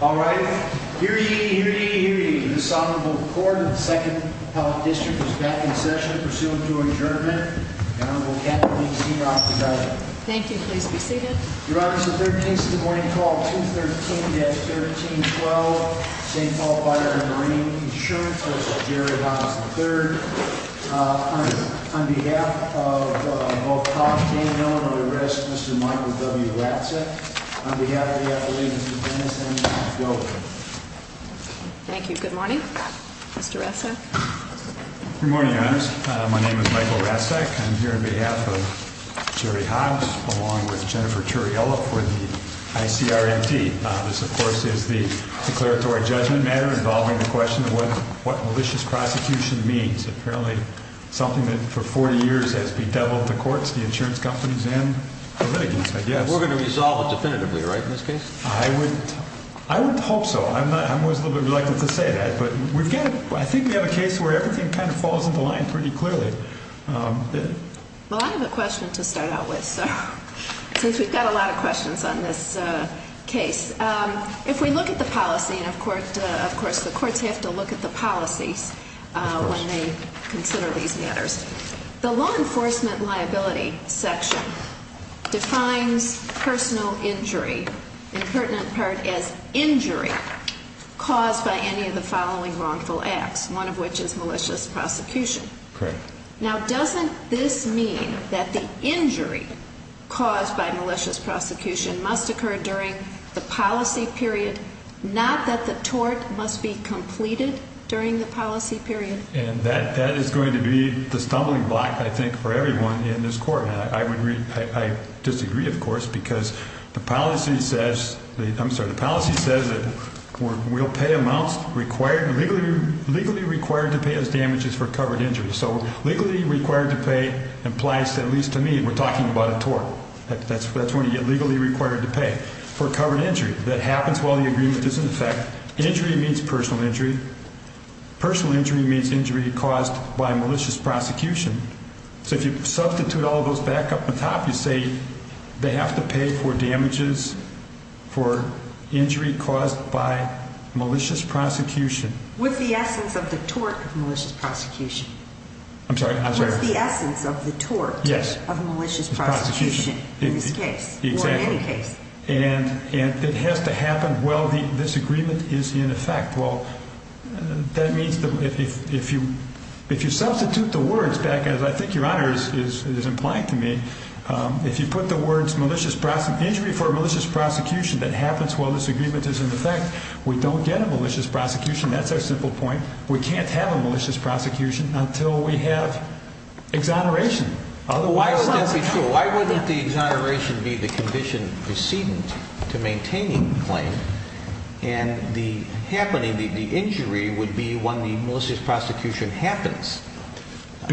All righty. Hear ye, hear ye, hear ye. The Assembly of the Court of the 2nd Appellate District is back in session. Pursuant to adjournment, the Honorable Kathleen C. Rock is out. Thank you. Please be seated. Your Honor, this is the third case of the morning. Call 213-1312, St. Paul Fire & Marine Insurance. This is Jerry Donovan III. On behalf of both Hobbs, Daniel, and the rest, Mr. Michael W. Ratzit. On behalf of the Appellate, Mr. Dennis, and Ms. Goldberg. Thank you. Good morning, Mr. Ratzit. Good morning, Your Honor. My name is Michael Ratzit. I'm here on behalf of Jerry Hobbs along with Jennifer Turriello for the ICRMT. This, of course, is the declaratory judgment matter involving the question of what malicious prosecution means. Apparently, something that for 40 years has bedeviled the courts, the insurance companies, and the litigants, I guess. And we're going to resolve it definitively, right, in this case? I would hope so. I'm always a little bit reluctant to say that, but I think we have a case where everything kind of falls into line pretty clearly. Well, I have a question to start out with, since we've got a lot of questions on this case. If we look at the policy, and of course the courts have to look at the policies when they consider these matters, the law enforcement liability section defines personal injury, in pertinent part, as injury caused by any of the following wrongful acts, one of which is malicious prosecution. Correct. Now, doesn't this mean that the injury caused by malicious prosecution must occur during the policy period, not that the tort must be completed during the policy period? And that is going to be the stumbling block, I think, for everyone in this court. And I disagree, of course, because the policy says that we'll pay amounts legally required to pay as damages for covered injury. So legally required to pay implies, at least to me, we're talking about a tort. That's when you get legally required to pay for covered injury. That happens while the agreement is in effect. Injury means personal injury. Personal injury means injury caused by malicious prosecution. So if you substitute all those back up on top, you say they have to pay for damages for injury caused by malicious prosecution. With the essence of the tort of malicious prosecution. I'm sorry? With the essence of the tort of malicious prosecution in this case, or in any case. Exactly. And it has to happen while this agreement is in effect. Well, that means that if you substitute the words back, as I think your Honor is implying to me, if you put the words malicious prosecution, injury for malicious prosecution that happens while this agreement is in effect, we don't get a malicious prosecution. That's our simple point. We can't have a malicious prosecution until we have exoneration. Otherwise, that's not true. Why wouldn't the exoneration be the condition preceding to maintaining the claim? And the happening, the injury would be when the malicious prosecution happens,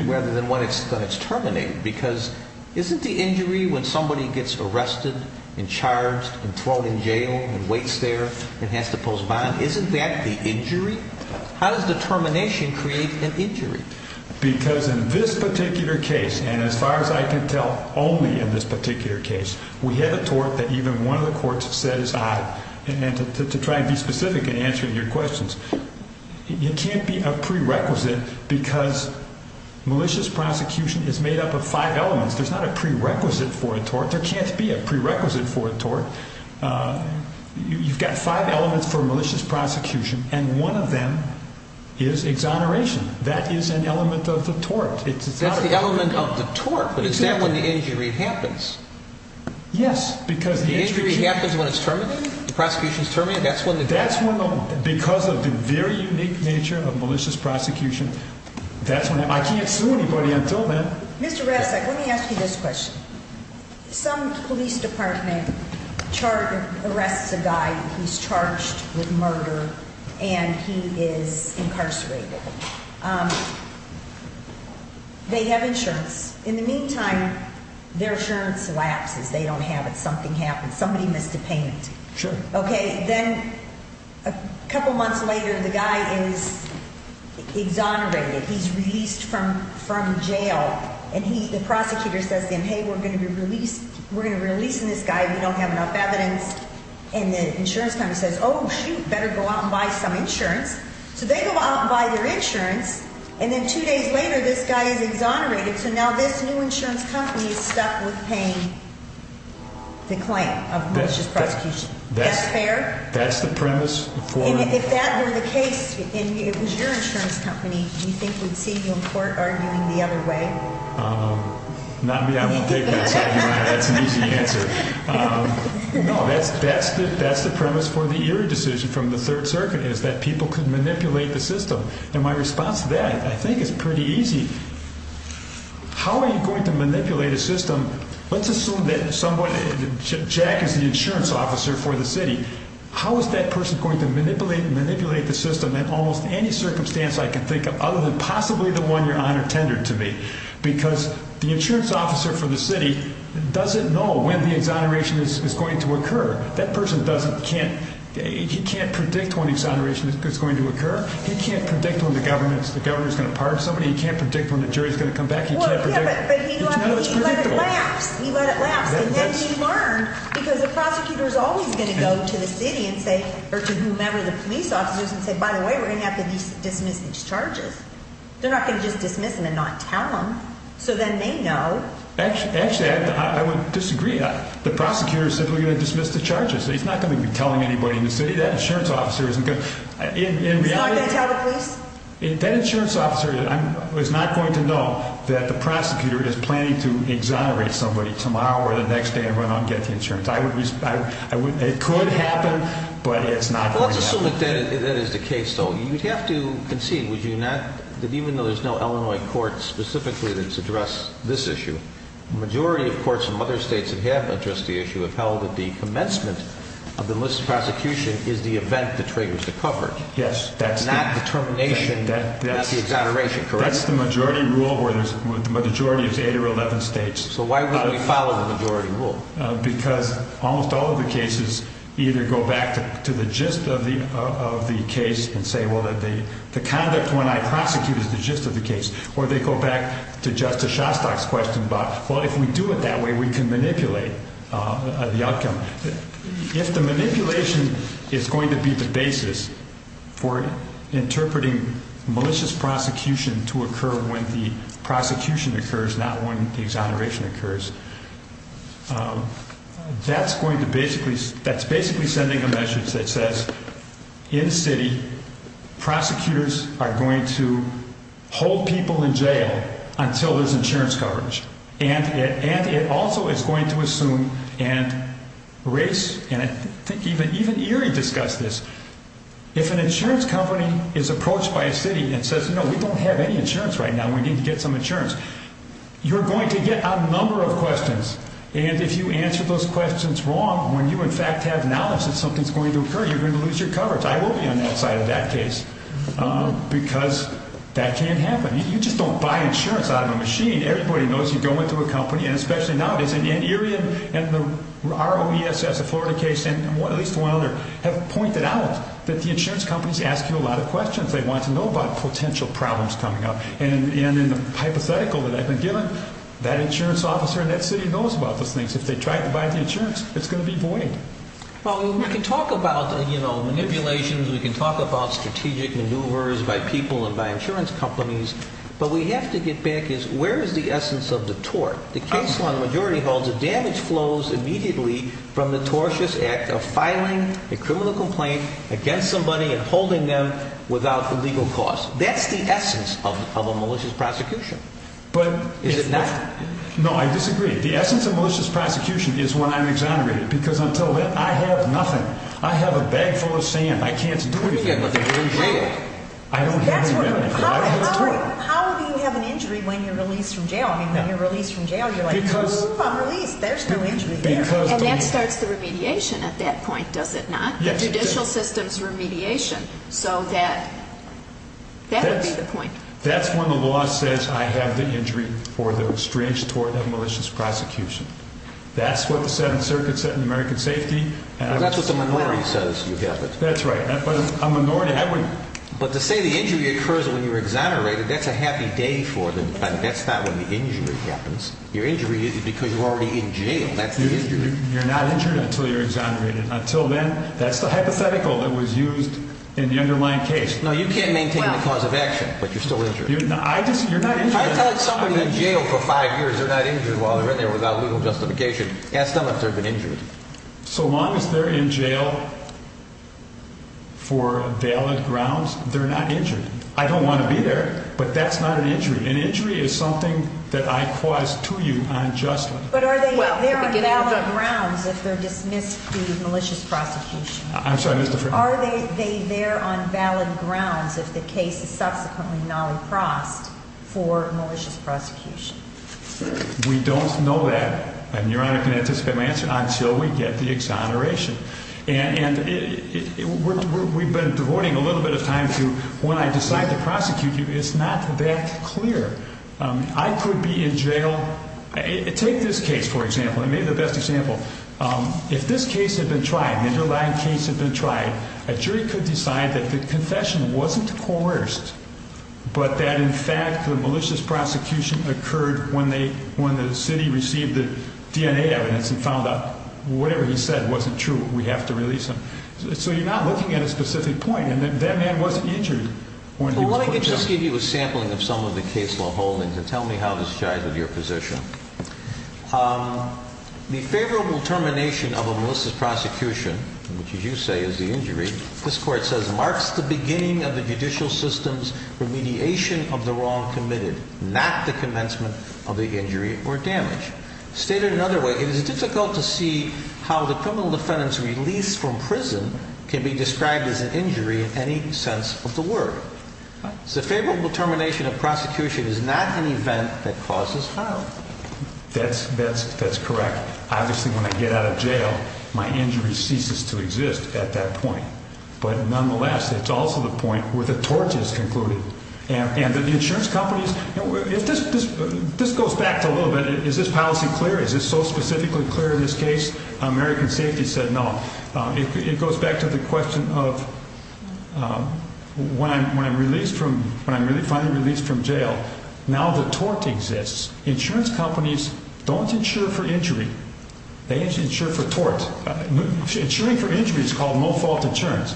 rather than when it's terminated. Because isn't the injury when somebody gets arrested and charged and thrown in jail and waits there and has to pose bond, isn't that the injury? How does the termination create an injury? Because in this particular case, and as far as I can tell, only in this particular case, we had a tort that even one of the courts said is odd. And to try and be specific in answering your questions, it can't be a prerequisite because malicious prosecution is made up of five elements. There's not a prerequisite for a tort. There can't be a prerequisite for a tort. You've got five elements for malicious prosecution, and one of them is exoneration. That is an element of the tort. That's the element of the tort, but is that when the injury happens? Yes. The injury happens when it's terminated? The prosecution's terminated? That's when the tort happens? That's when the, because of the very unique nature of malicious prosecution, that's when, I can't sue anybody until then. Mr. Resnick, let me ask you this question. Some police department arrests a guy, he's charged with murder, and he is incarcerated. They have insurance. In the meantime, their insurance lapses. They don't have it. Something happens. Somebody missed a payment. Sure. Okay, then a couple months later, the guy is exonerated. He's released from jail, and the prosecutor says to him, hey, we're going to be releasing this guy if we don't have enough evidence. And the insurance company says, oh, shoot, better go out and buy some insurance. So they go out and buy their insurance, and then two days later, this guy is exonerated. So now this new insurance company is stuck with paying the claim of malicious prosecution. That's fair? That's the premise. If that were the case, and it was your insurance company, do you think we'd see you in court arguing the other way? Not me. I'm going to take that side. That's an easy answer. No, that's the premise for the Erie decision from the Third Circuit is that people could manipulate the system. And my response to that, I think, is pretty easy. How are you going to manipulate a system? Let's assume that someone, Jack is the insurance officer for the city. How is that person going to manipulate the system in almost any circumstance I can think of other than possibly the one you're on or tendered to me? Because the insurance officer for the city doesn't know when the exoneration is going to occur. That person doesn't, he can't predict when exoneration is going to occur. He can't predict when the governor is going to pardon somebody. He can't predict when the jury is going to come back. He can't predict. But he let it lapse. He let it lapse. And then he learned, because the prosecutor is always going to go to the city or to whomever the police officer is and say, by the way, we're going to have to dismiss these charges. They're not going to just dismiss them and not tell them. So then they know. Actually, I would disagree. The prosecutor said we're going to dismiss the charges. He's not going to be telling anybody in the city. That insurance officer isn't going to. He's not going to tell the police? That insurance officer is not going to know that the prosecutor is planning to exonerate somebody tomorrow or the next day and run out and get the insurance. It could happen, but it's not going to happen. Let's assume that that is the case, though. You'd have to concede, would you not, that even though there's no Illinois court specifically that's addressed this issue, the majority of courts from other states that have addressed the issue have held that the commencement of the enlisted prosecution is the event that triggers the coverage, not the termination, not the exoneration, correct? That's the majority rule where the majority is 8 or 11 states. So why wouldn't we follow the majority rule? Because almost all of the cases either go back to the gist of the case and say, well, the conduct when I prosecute is the gist of the case, or they go back to Justice Shostak's question about, well, if we do it that way, we can manipulate the outcome. If the manipulation is going to be the basis for interpreting malicious prosecution to occur when the prosecution occurs, not when the exoneration occurs, that's basically sending a message that says, in the city, prosecutors are going to hold people in jail until there's insurance coverage. And it also is going to assume and race, and I think even Erie discussed this, if an insurance company is approached by a city and says, no, we don't have any insurance right now, we need to get some insurance, you're going to get a number of questions. And if you answer those questions wrong, when you in fact have knowledge that something's going to occur, you're going to lose your coverage. I will be on that side of that case. Because that can't happen. You just don't buy insurance out of a machine. Everybody knows you go into a company, and especially nowadays, and Erie and the ROESS of Florida case, and at least one other, have pointed out that the insurance companies ask you a lot of questions. They want to know about potential problems coming up. And in the hypothetical that I've been given, that insurance officer in that city knows about those things. If they tried to buy the insurance, it's going to be void. Well, we can talk about manipulations, we can talk about strategic maneuvers by people and by insurance companies, but what we have to get back is, where is the essence of the tort? The case law in the majority holds that damage flows immediately from the tortious act of filing a criminal complaint against somebody and holding them without the legal cost. That's the essence of a malicious prosecution. Is it not? No, I disagree. The essence of malicious prosecution is when I'm exonerated. Because until then, I have nothing. I have a bag full of sand. I can't do anything with it. I don't have anything. How do you have an injury when you're released from jail? I mean, when you're released from jail, you're like, I'm released, there's no injury there. And that starts the remediation at that point, does it not? Yes, it does. Judicial system's remediation. So that would be the point. That's when the law says I have the injury for the strange tort of malicious prosecution. That's what the Seventh Circuit said in American Safety. That's what the minority says. That's right. But to say the injury occurs when you're exonerated, that's a happy day for them. That's not when the injury happens. Your injury is because you're already in jail. You're not injured until you're exonerated. Until then, that's the hypothetical that was used in the underlying case. No, you can't maintain the cause of action, but you're still injured. I tell somebody in jail for five years they're not injured while they're in there without legal justification. Ask them if they've been injured. So long as they're in jail for valid grounds, they're not injured. I don't want to be there, but that's not an injury. An injury is something that I cause to you unjustly. But are they there on valid grounds if they're dismissed through malicious prosecution? I'm sorry, Mr. Freeman. Are they there on valid grounds if the case is subsequently nolliprossed for malicious prosecution? We don't know that, and Your Honor can anticipate my answer, until we get the exoneration. And we've been devoting a little bit of time to when I decide to prosecute you it's not that clear. I could be in jail take this case, for example. It may be the best example. If this underlying case had been tried a jury could decide that the confession wasn't coerced but that in fact the malicious prosecution occurred when the city received the DNA evidence and found out whatever he said wasn't true. We have to release him. So you're not looking at a specific point and that man wasn't injured. Let me just give you a sampling of some of the case law holdings and tell me how this jives with your position. The favorable termination of a malicious prosecution, which as you say is the injury, this court says marks the beginning of the judicial system's mediation of the wrong committed not the commencement of the injury or damage. It is difficult to see how the criminal defendant's release from prison can be described as an injury in any sense of the word. The favorable termination of prosecution is not an event that causes harm. That's correct. Obviously when I get out of jail my injury ceases to exist at that point. But nonetheless it's also the point where the tort is concluded. And the insurance companies this goes back to a little bit, is this policy clear? Is this so specifically clear in this case? American Safety said no. It goes back to the question of when I'm finally released from jail, now the tort exists. Insurance companies don't insure for injury. They insure for tort. Insuring for injury is called fault insurance.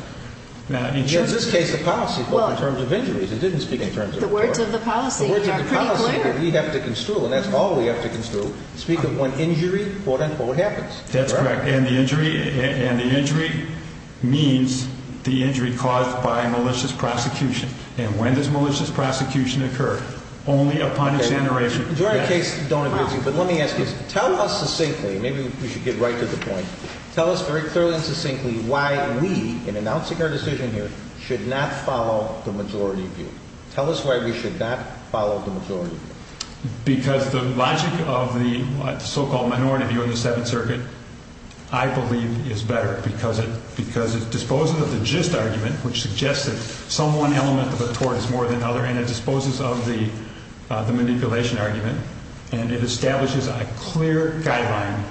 In this case the policy is in terms of injuries it didn't speak in terms of tort. The words of the policy are pretty clear. And that's all we have to construe. Speak of when injury quote unquote happens. That's correct. And the injury means the injury caused by malicious prosecution. And when does malicious prosecution occur? Only upon exoneration. But let me ask you, tell us succinctly maybe we should get right to the point Tell us very clearly and succinctly why we, in announcing our decision here should not follow the majority view. Tell us why we should not follow the majority view. Because the logic of the so called minority view of the 7th circuit I believe is better because it disposes of the gist argument which suggests that some one element of a tort is more than another and it disposes of the manipulation argument and it establishes a clear guideline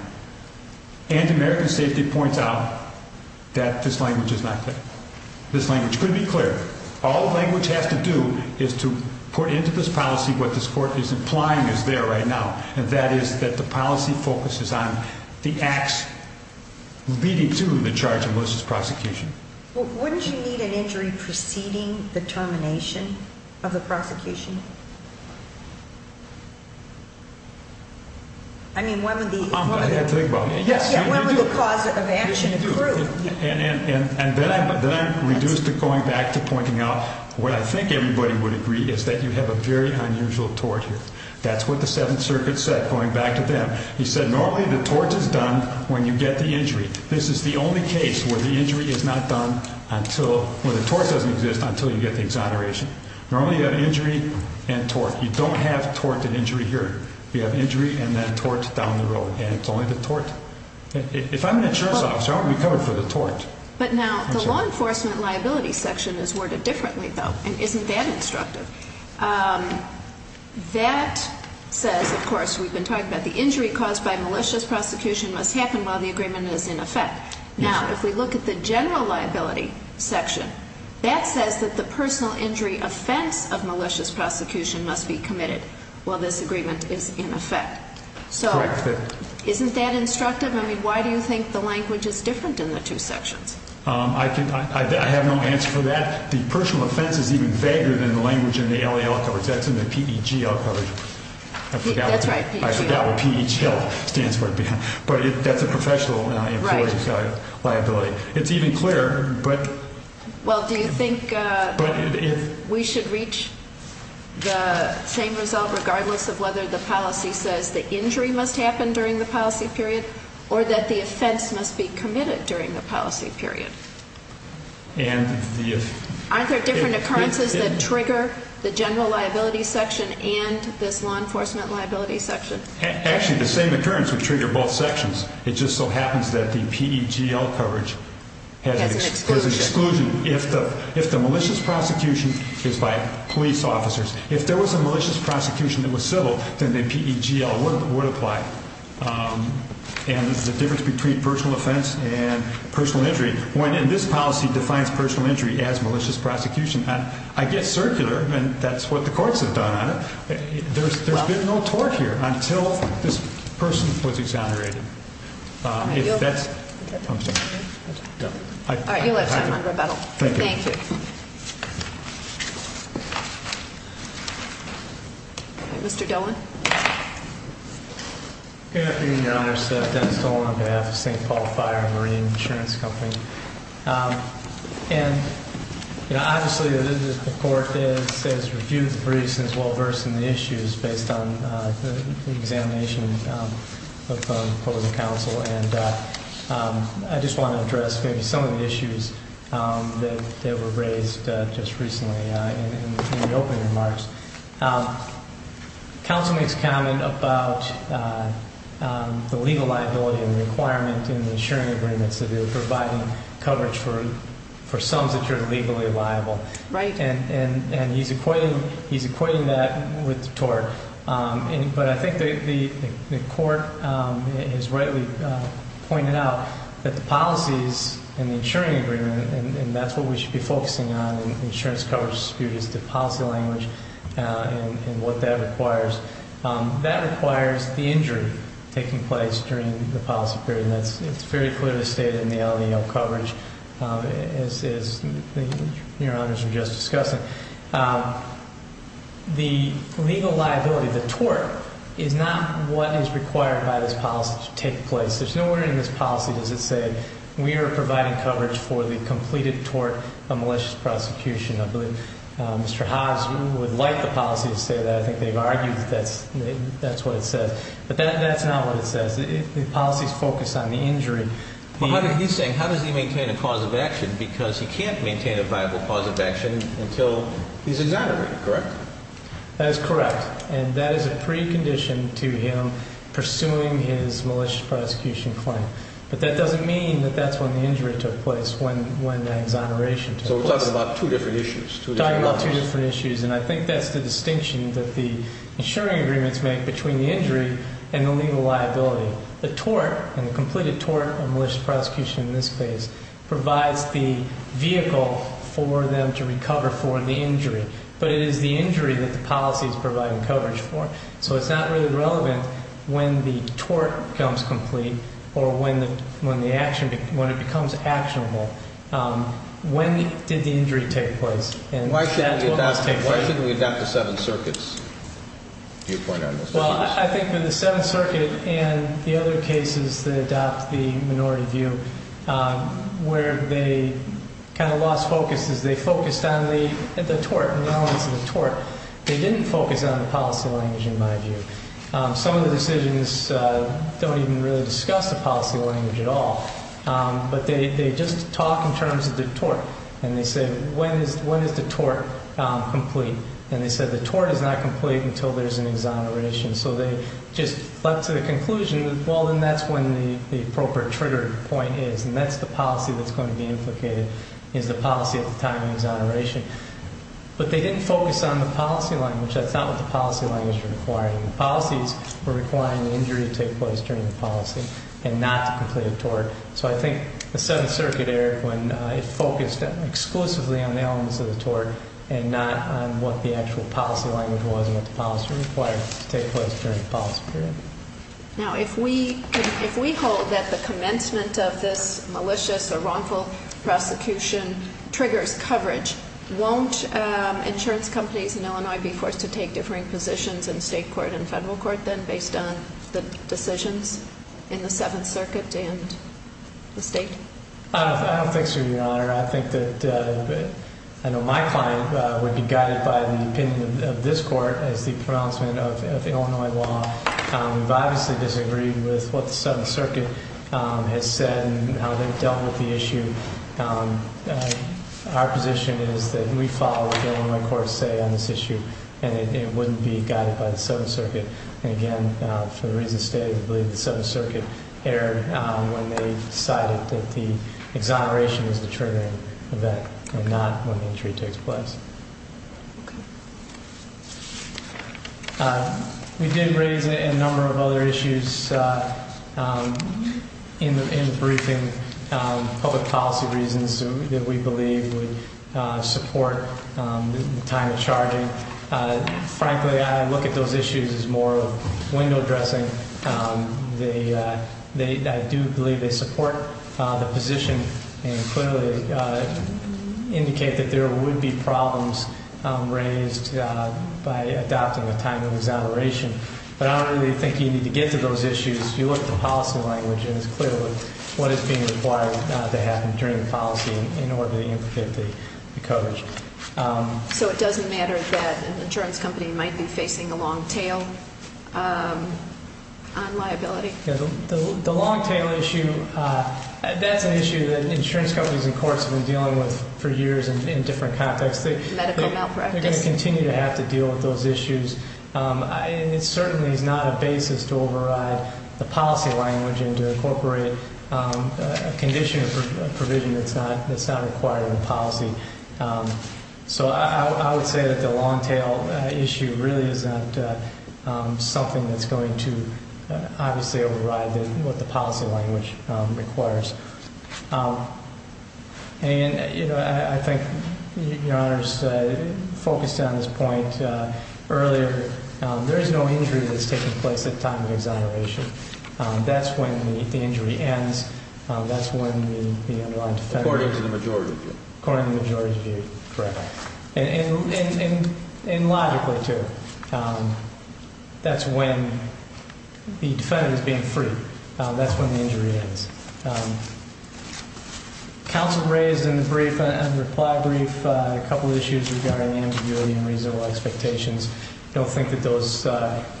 and American Safety points out that this language is not clear. This language could be clear. All the language has to do is to put into this policy what this court is implying is there right now and that is that the policy focuses on the acts leading to the charge of malicious prosecution. Wouldn't you need an injury preceding the termination of the prosecution? I mean when would the cause of action accrue? And then I reduce to going back to pointing out what I think everybody would agree is that you have a very unusual tort here. That's what the 7th circuit said going back to them. He said normally the tort is done when you get the injury. This is the only case where the injury is not done until the tort doesn't exist until you get the exoneration. Normally an injury and tort. You don't have tort and injury here. You have injury and then tort down the road and it's only the tort. If I'm an insurance officer I won't be covered for the tort. But now the law enforcement liability section is worded differently though and isn't that instructive. That says of course we've been talking about the injury caused by malicious prosecution must happen while the agreement is in effect. Now if we look at the general liability section that says that the personal injury offense of malicious prosecution must be committed while this agreement is in effect. Isn't that instructive? Why do you think the language is different in the two sections? I have no answer for that. The personal offense is even vaguer than the language in the LAL coverage. That's in the PEGL coverage. That's right. I forgot what PEGL stands for. But that's a professional employee liability. It's even clearer but Do you think we should reach the same result regardless of whether the policy says the injury must happen during the policy period or that the offense must be committed during the policy period? Aren't there different occurrences that trigger the general liability section and this law enforcement liability section? Actually the same occurrence would trigger both sections. It just so happens that the PEGL coverage has an exclusion if the malicious prosecution is by police officers. If there was a malicious prosecution that was civil then the PEGL would apply. And the difference between personal offense and personal injury, when this policy defines personal injury as malicious prosecution I get circular and that's what the courts have done on it. There's been no tort here until this person was exonerated. If that's OK. You'll have time on rebuttal. Thank you. Mr. Dolan? Good afternoon Your Honor. It's Dennis Dolan on behalf of St. Paul Fire and Marine Insurance Company. And obviously the court has reviewed the briefs and is well versed in the issues based on the examination of the public counsel and I just want to address some of the issues that were raised just recently in the opening remarks. Counsel makes comment about the legal liability and the requirement in the insuring agreements that they're providing coverage for sums that are legally liable. And he's equating that with tort. But I think the court has rightly pointed out that the policies in the insuring agreement, and that's what we should be focusing on in the insurance coverage dispute is the policy language and what that requires. That requires the injury taking place during the policy period and it's very clearly stated in the LEO coverage as Your Honors were just discussing. The legal liability, the tort is not what is required by this policy to take place. There's no order in this policy that says we are providing coverage for the completed tort of malicious prosecution. Mr. Hobbs would like the policy to say that. I think they've argued that's what it says. But that's not what it says. The policy is focused on the injury. He's saying how does he maintain a cause of action because he can't maintain a viable cause of action until he's exonerated, correct? That is correct. And that is a precondition to him pursuing his malicious prosecution claim. But that doesn't mean that that's when the injury took place when exoneration took place. So we're talking about two different issues. And I think that's the distinction that the insuring agreements make between the injury and the legal liability. The tort, and the completed tort of malicious prosecution in this case provides the vehicle for them to recover for the injury. But it is the injury that the policy is providing coverage for. So it's not really relevant when the tort becomes complete or when the action becomes actionable when did the injury take place? Why shouldn't we adopt the seven circuits? Well, I think with the seven circuits and the other cases that adopt the minority view where they kind of lost focus is they focused on the tort. They didn't focus on the policy language in my view. Some of the decisions don't even really discuss the policy language at all. But they just talk in terms of the tort. And they say when is the tort complete? And they said the tort is not complete until there's an exoneration. So they just left to the conclusion well then that's when the appropriate trigger point is. And that's the policy that's going to be implicated is the policy at the time of exoneration. But they didn't focus on the policy language that's not what the policy language required and the policies were requiring the injury to take place during the policy and not to complete the tort. So I think the seventh circuit Eric focused exclusively on the elements of the tort and not on what the actual policy language was and what the policy required to take place during the policy period. Now if we hold that the commencement of this malicious or wrongful prosecution triggers coverage, won't insurance companies in Illinois be forced to take differing positions in state court and federal court then based on the decisions in the seventh circuit and the state? Thanks for your honor. I think that I know my client would be guided by the opinion of this court as the pronouncement of Illinois law. We've obviously disagreed with what they've said and how they've dealt with the issue. Our position is that we follow what the Illinois courts say on this issue and it wouldn't be guided by the seventh circuit and again for the reasons stated I believe the seventh circuit erred when they decided that the exoneration was the triggering event and not when the injury takes place. We did raise a number of other issues in the briefing public policy reasons that we believe would support the time of charging. Frankly I look at those issues as more of window dressing. I do believe they support the position and clearly indicate that there would be problems raised by adopting a time of exoneration. I don't really think you need to get to those issues. You look at the policy language and it's clear what is being required to happen during the policy in order to implement the coverage. So it doesn't matter that an insurance company might be facing a long tail on liability? The long tail issue that's an issue that insurance companies and courts have been dealing with for years in different contexts. They're going to continue to have to deal with those issues and it certainly is not a basis to override the policy language and to incorporate a condition or provision that's not required in the policy. So I would say that the long tail issue really is not something that's going to obviously override what the policy language requires. I think Your Honor's focused on this point earlier. There is no injury that's taking place at time of exoneration. That's when the injury ends. That's when the underlying defendant According to the majority's view. Correct. And logically too. That's when the defendant is being free. That's when the injury ends. Counsel raised in the brief A couple issues regarding ambiguity and reasonable expectations. I don't think that those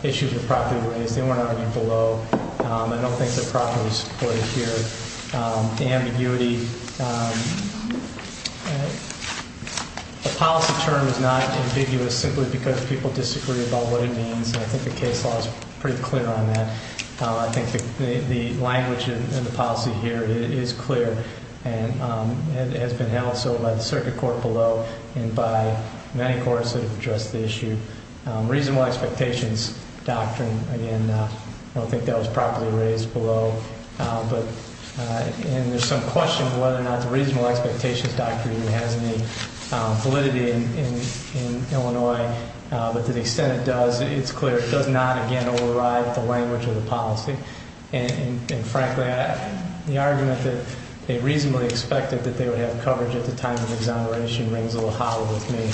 issues were properly raised. They weren't below. I don't think they're properly supported here. Ambiguity The policy term is not ambiguous simply because people disagree about what it means and I think the case law is pretty clear on that. I think the language in the policy here is clear and it has been held so by the circuit court below and by many courts that have addressed the issue. Reasonable expectations doctrine I don't think that was properly raised below and there's some questions whether or not the reasonable expectations doctrine has any validity in Illinois but to the extent it does, it's clear it does not override the language of the policy and frankly the argument that they reasonably expected that they would have coverage at the time of exoneration rings a little hollow with me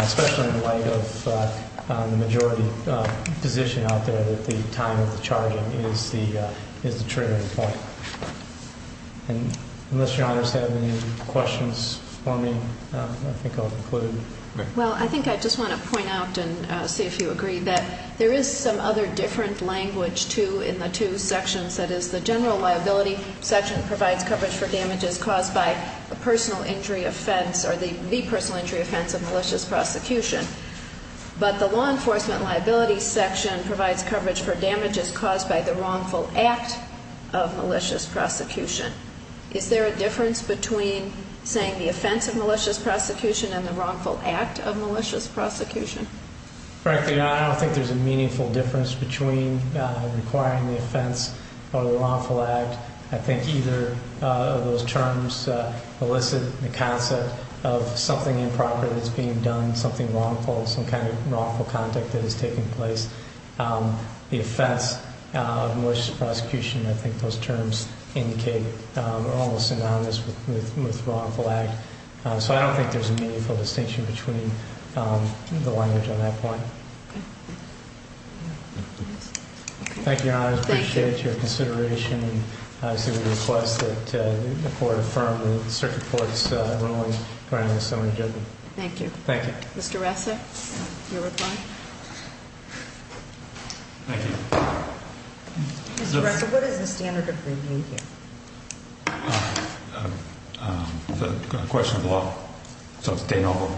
especially in light of the majority position out there that the time of the charging is the triggering point. Unless your honors have any questions for me I think I'll conclude. Well I think I just want to point out and see if you agree that there is some other different language too in the two sections that is the general liability section provides coverage for damages caused by a personal injury offense or the personal injury offense of malicious prosecution but the law enforcement liability section provides coverage for damages caused by the wrongful act of malicious prosecution is there a difference between saying the offense of malicious prosecution and the wrongful act of malicious prosecution? Frankly I don't think there's a meaningful difference between requiring the offense or the wrongful act I think either of those terms elicit the concept of something improper that's being done something wrongful some kind of wrongful conduct that is taking place the offense of malicious prosecution I think those terms indicate almost synonymous with wrongful act so I don't think there's a meaningful distinction between the language on that point. Thank you your honor. I appreciate your consideration and I see the request that the court affirm the circuit court's ruling granted so it should be. Thank you. Mr. Ressa your reply. Thank you. Mr. Ressa what is the standard agreement here? The question of law so it's de novo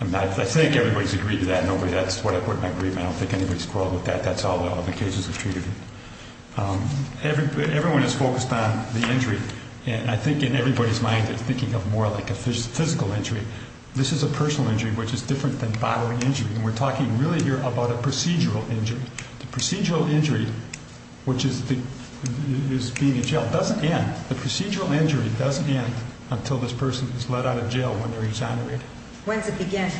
and I think everybody's agreed to that that's what I put in my agreement I don't think anybody's quarreled with that that's how all the cases are treated everyone is focused on the injury and I think in everybody's mind they're thinking of more like a physical injury this is a personal injury which is different than bodily injury and we're talking really here about a procedural injury the procedural injury which is being in jail doesn't end the procedural injury doesn't end until this person is let out of jail when they're exonerated. When does it begin?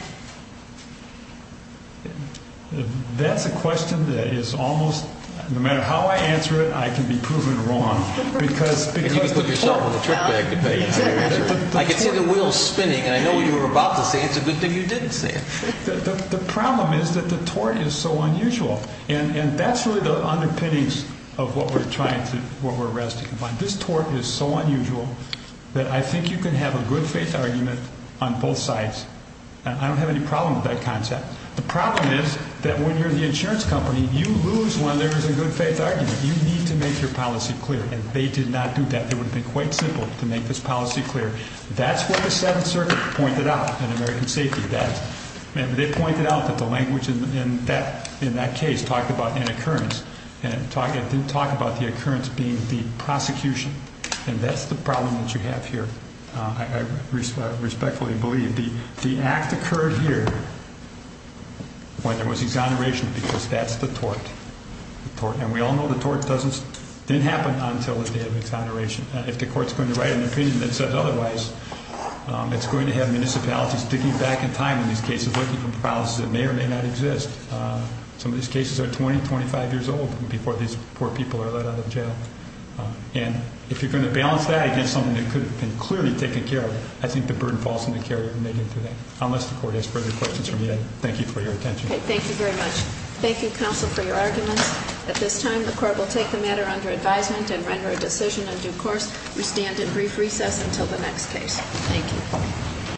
That's a question that is almost no matter how I answer it I can be proven wrong because I can see the wheels spinning and I know what you were about to say it's a good thing you didn't say it the problem is that the tort is so unusual and that's really the underpinnings of what we're trying to this tort is so unusual that I think you can have a good faith argument on both sides and I don't have any problem with that concept the problem is that when you're the insurance company you lose when there is a good faith argument you need to make your policy clear and they did not do that it would have been quite simple to make this policy clear that's what the 7th circuit pointed out in American Safety they pointed out that the language in that case talked about an occurrence and it didn't talk about the occurrence being the prosecution and that's the problem that you have here I respectfully believe the act occurred here when there was exoneration because that's the tort and we all know the tort didn't happen until the day of exoneration if the court is going to write an opinion that says otherwise it's going to have municipalities digging back in time in these cases looking for problems that may or may not exist some of these cases are 20, 25 years old before these poor people are let out of jail and if you're going to balance that against something that could have been clearly taken care of I think the burden falls on the care you're making today unless the court has further questions from you thank you for your attention thank you counsel for your arguments at this time the court will take the matter under advisement and render a decision on due course we stand in brief recess until the next case thank you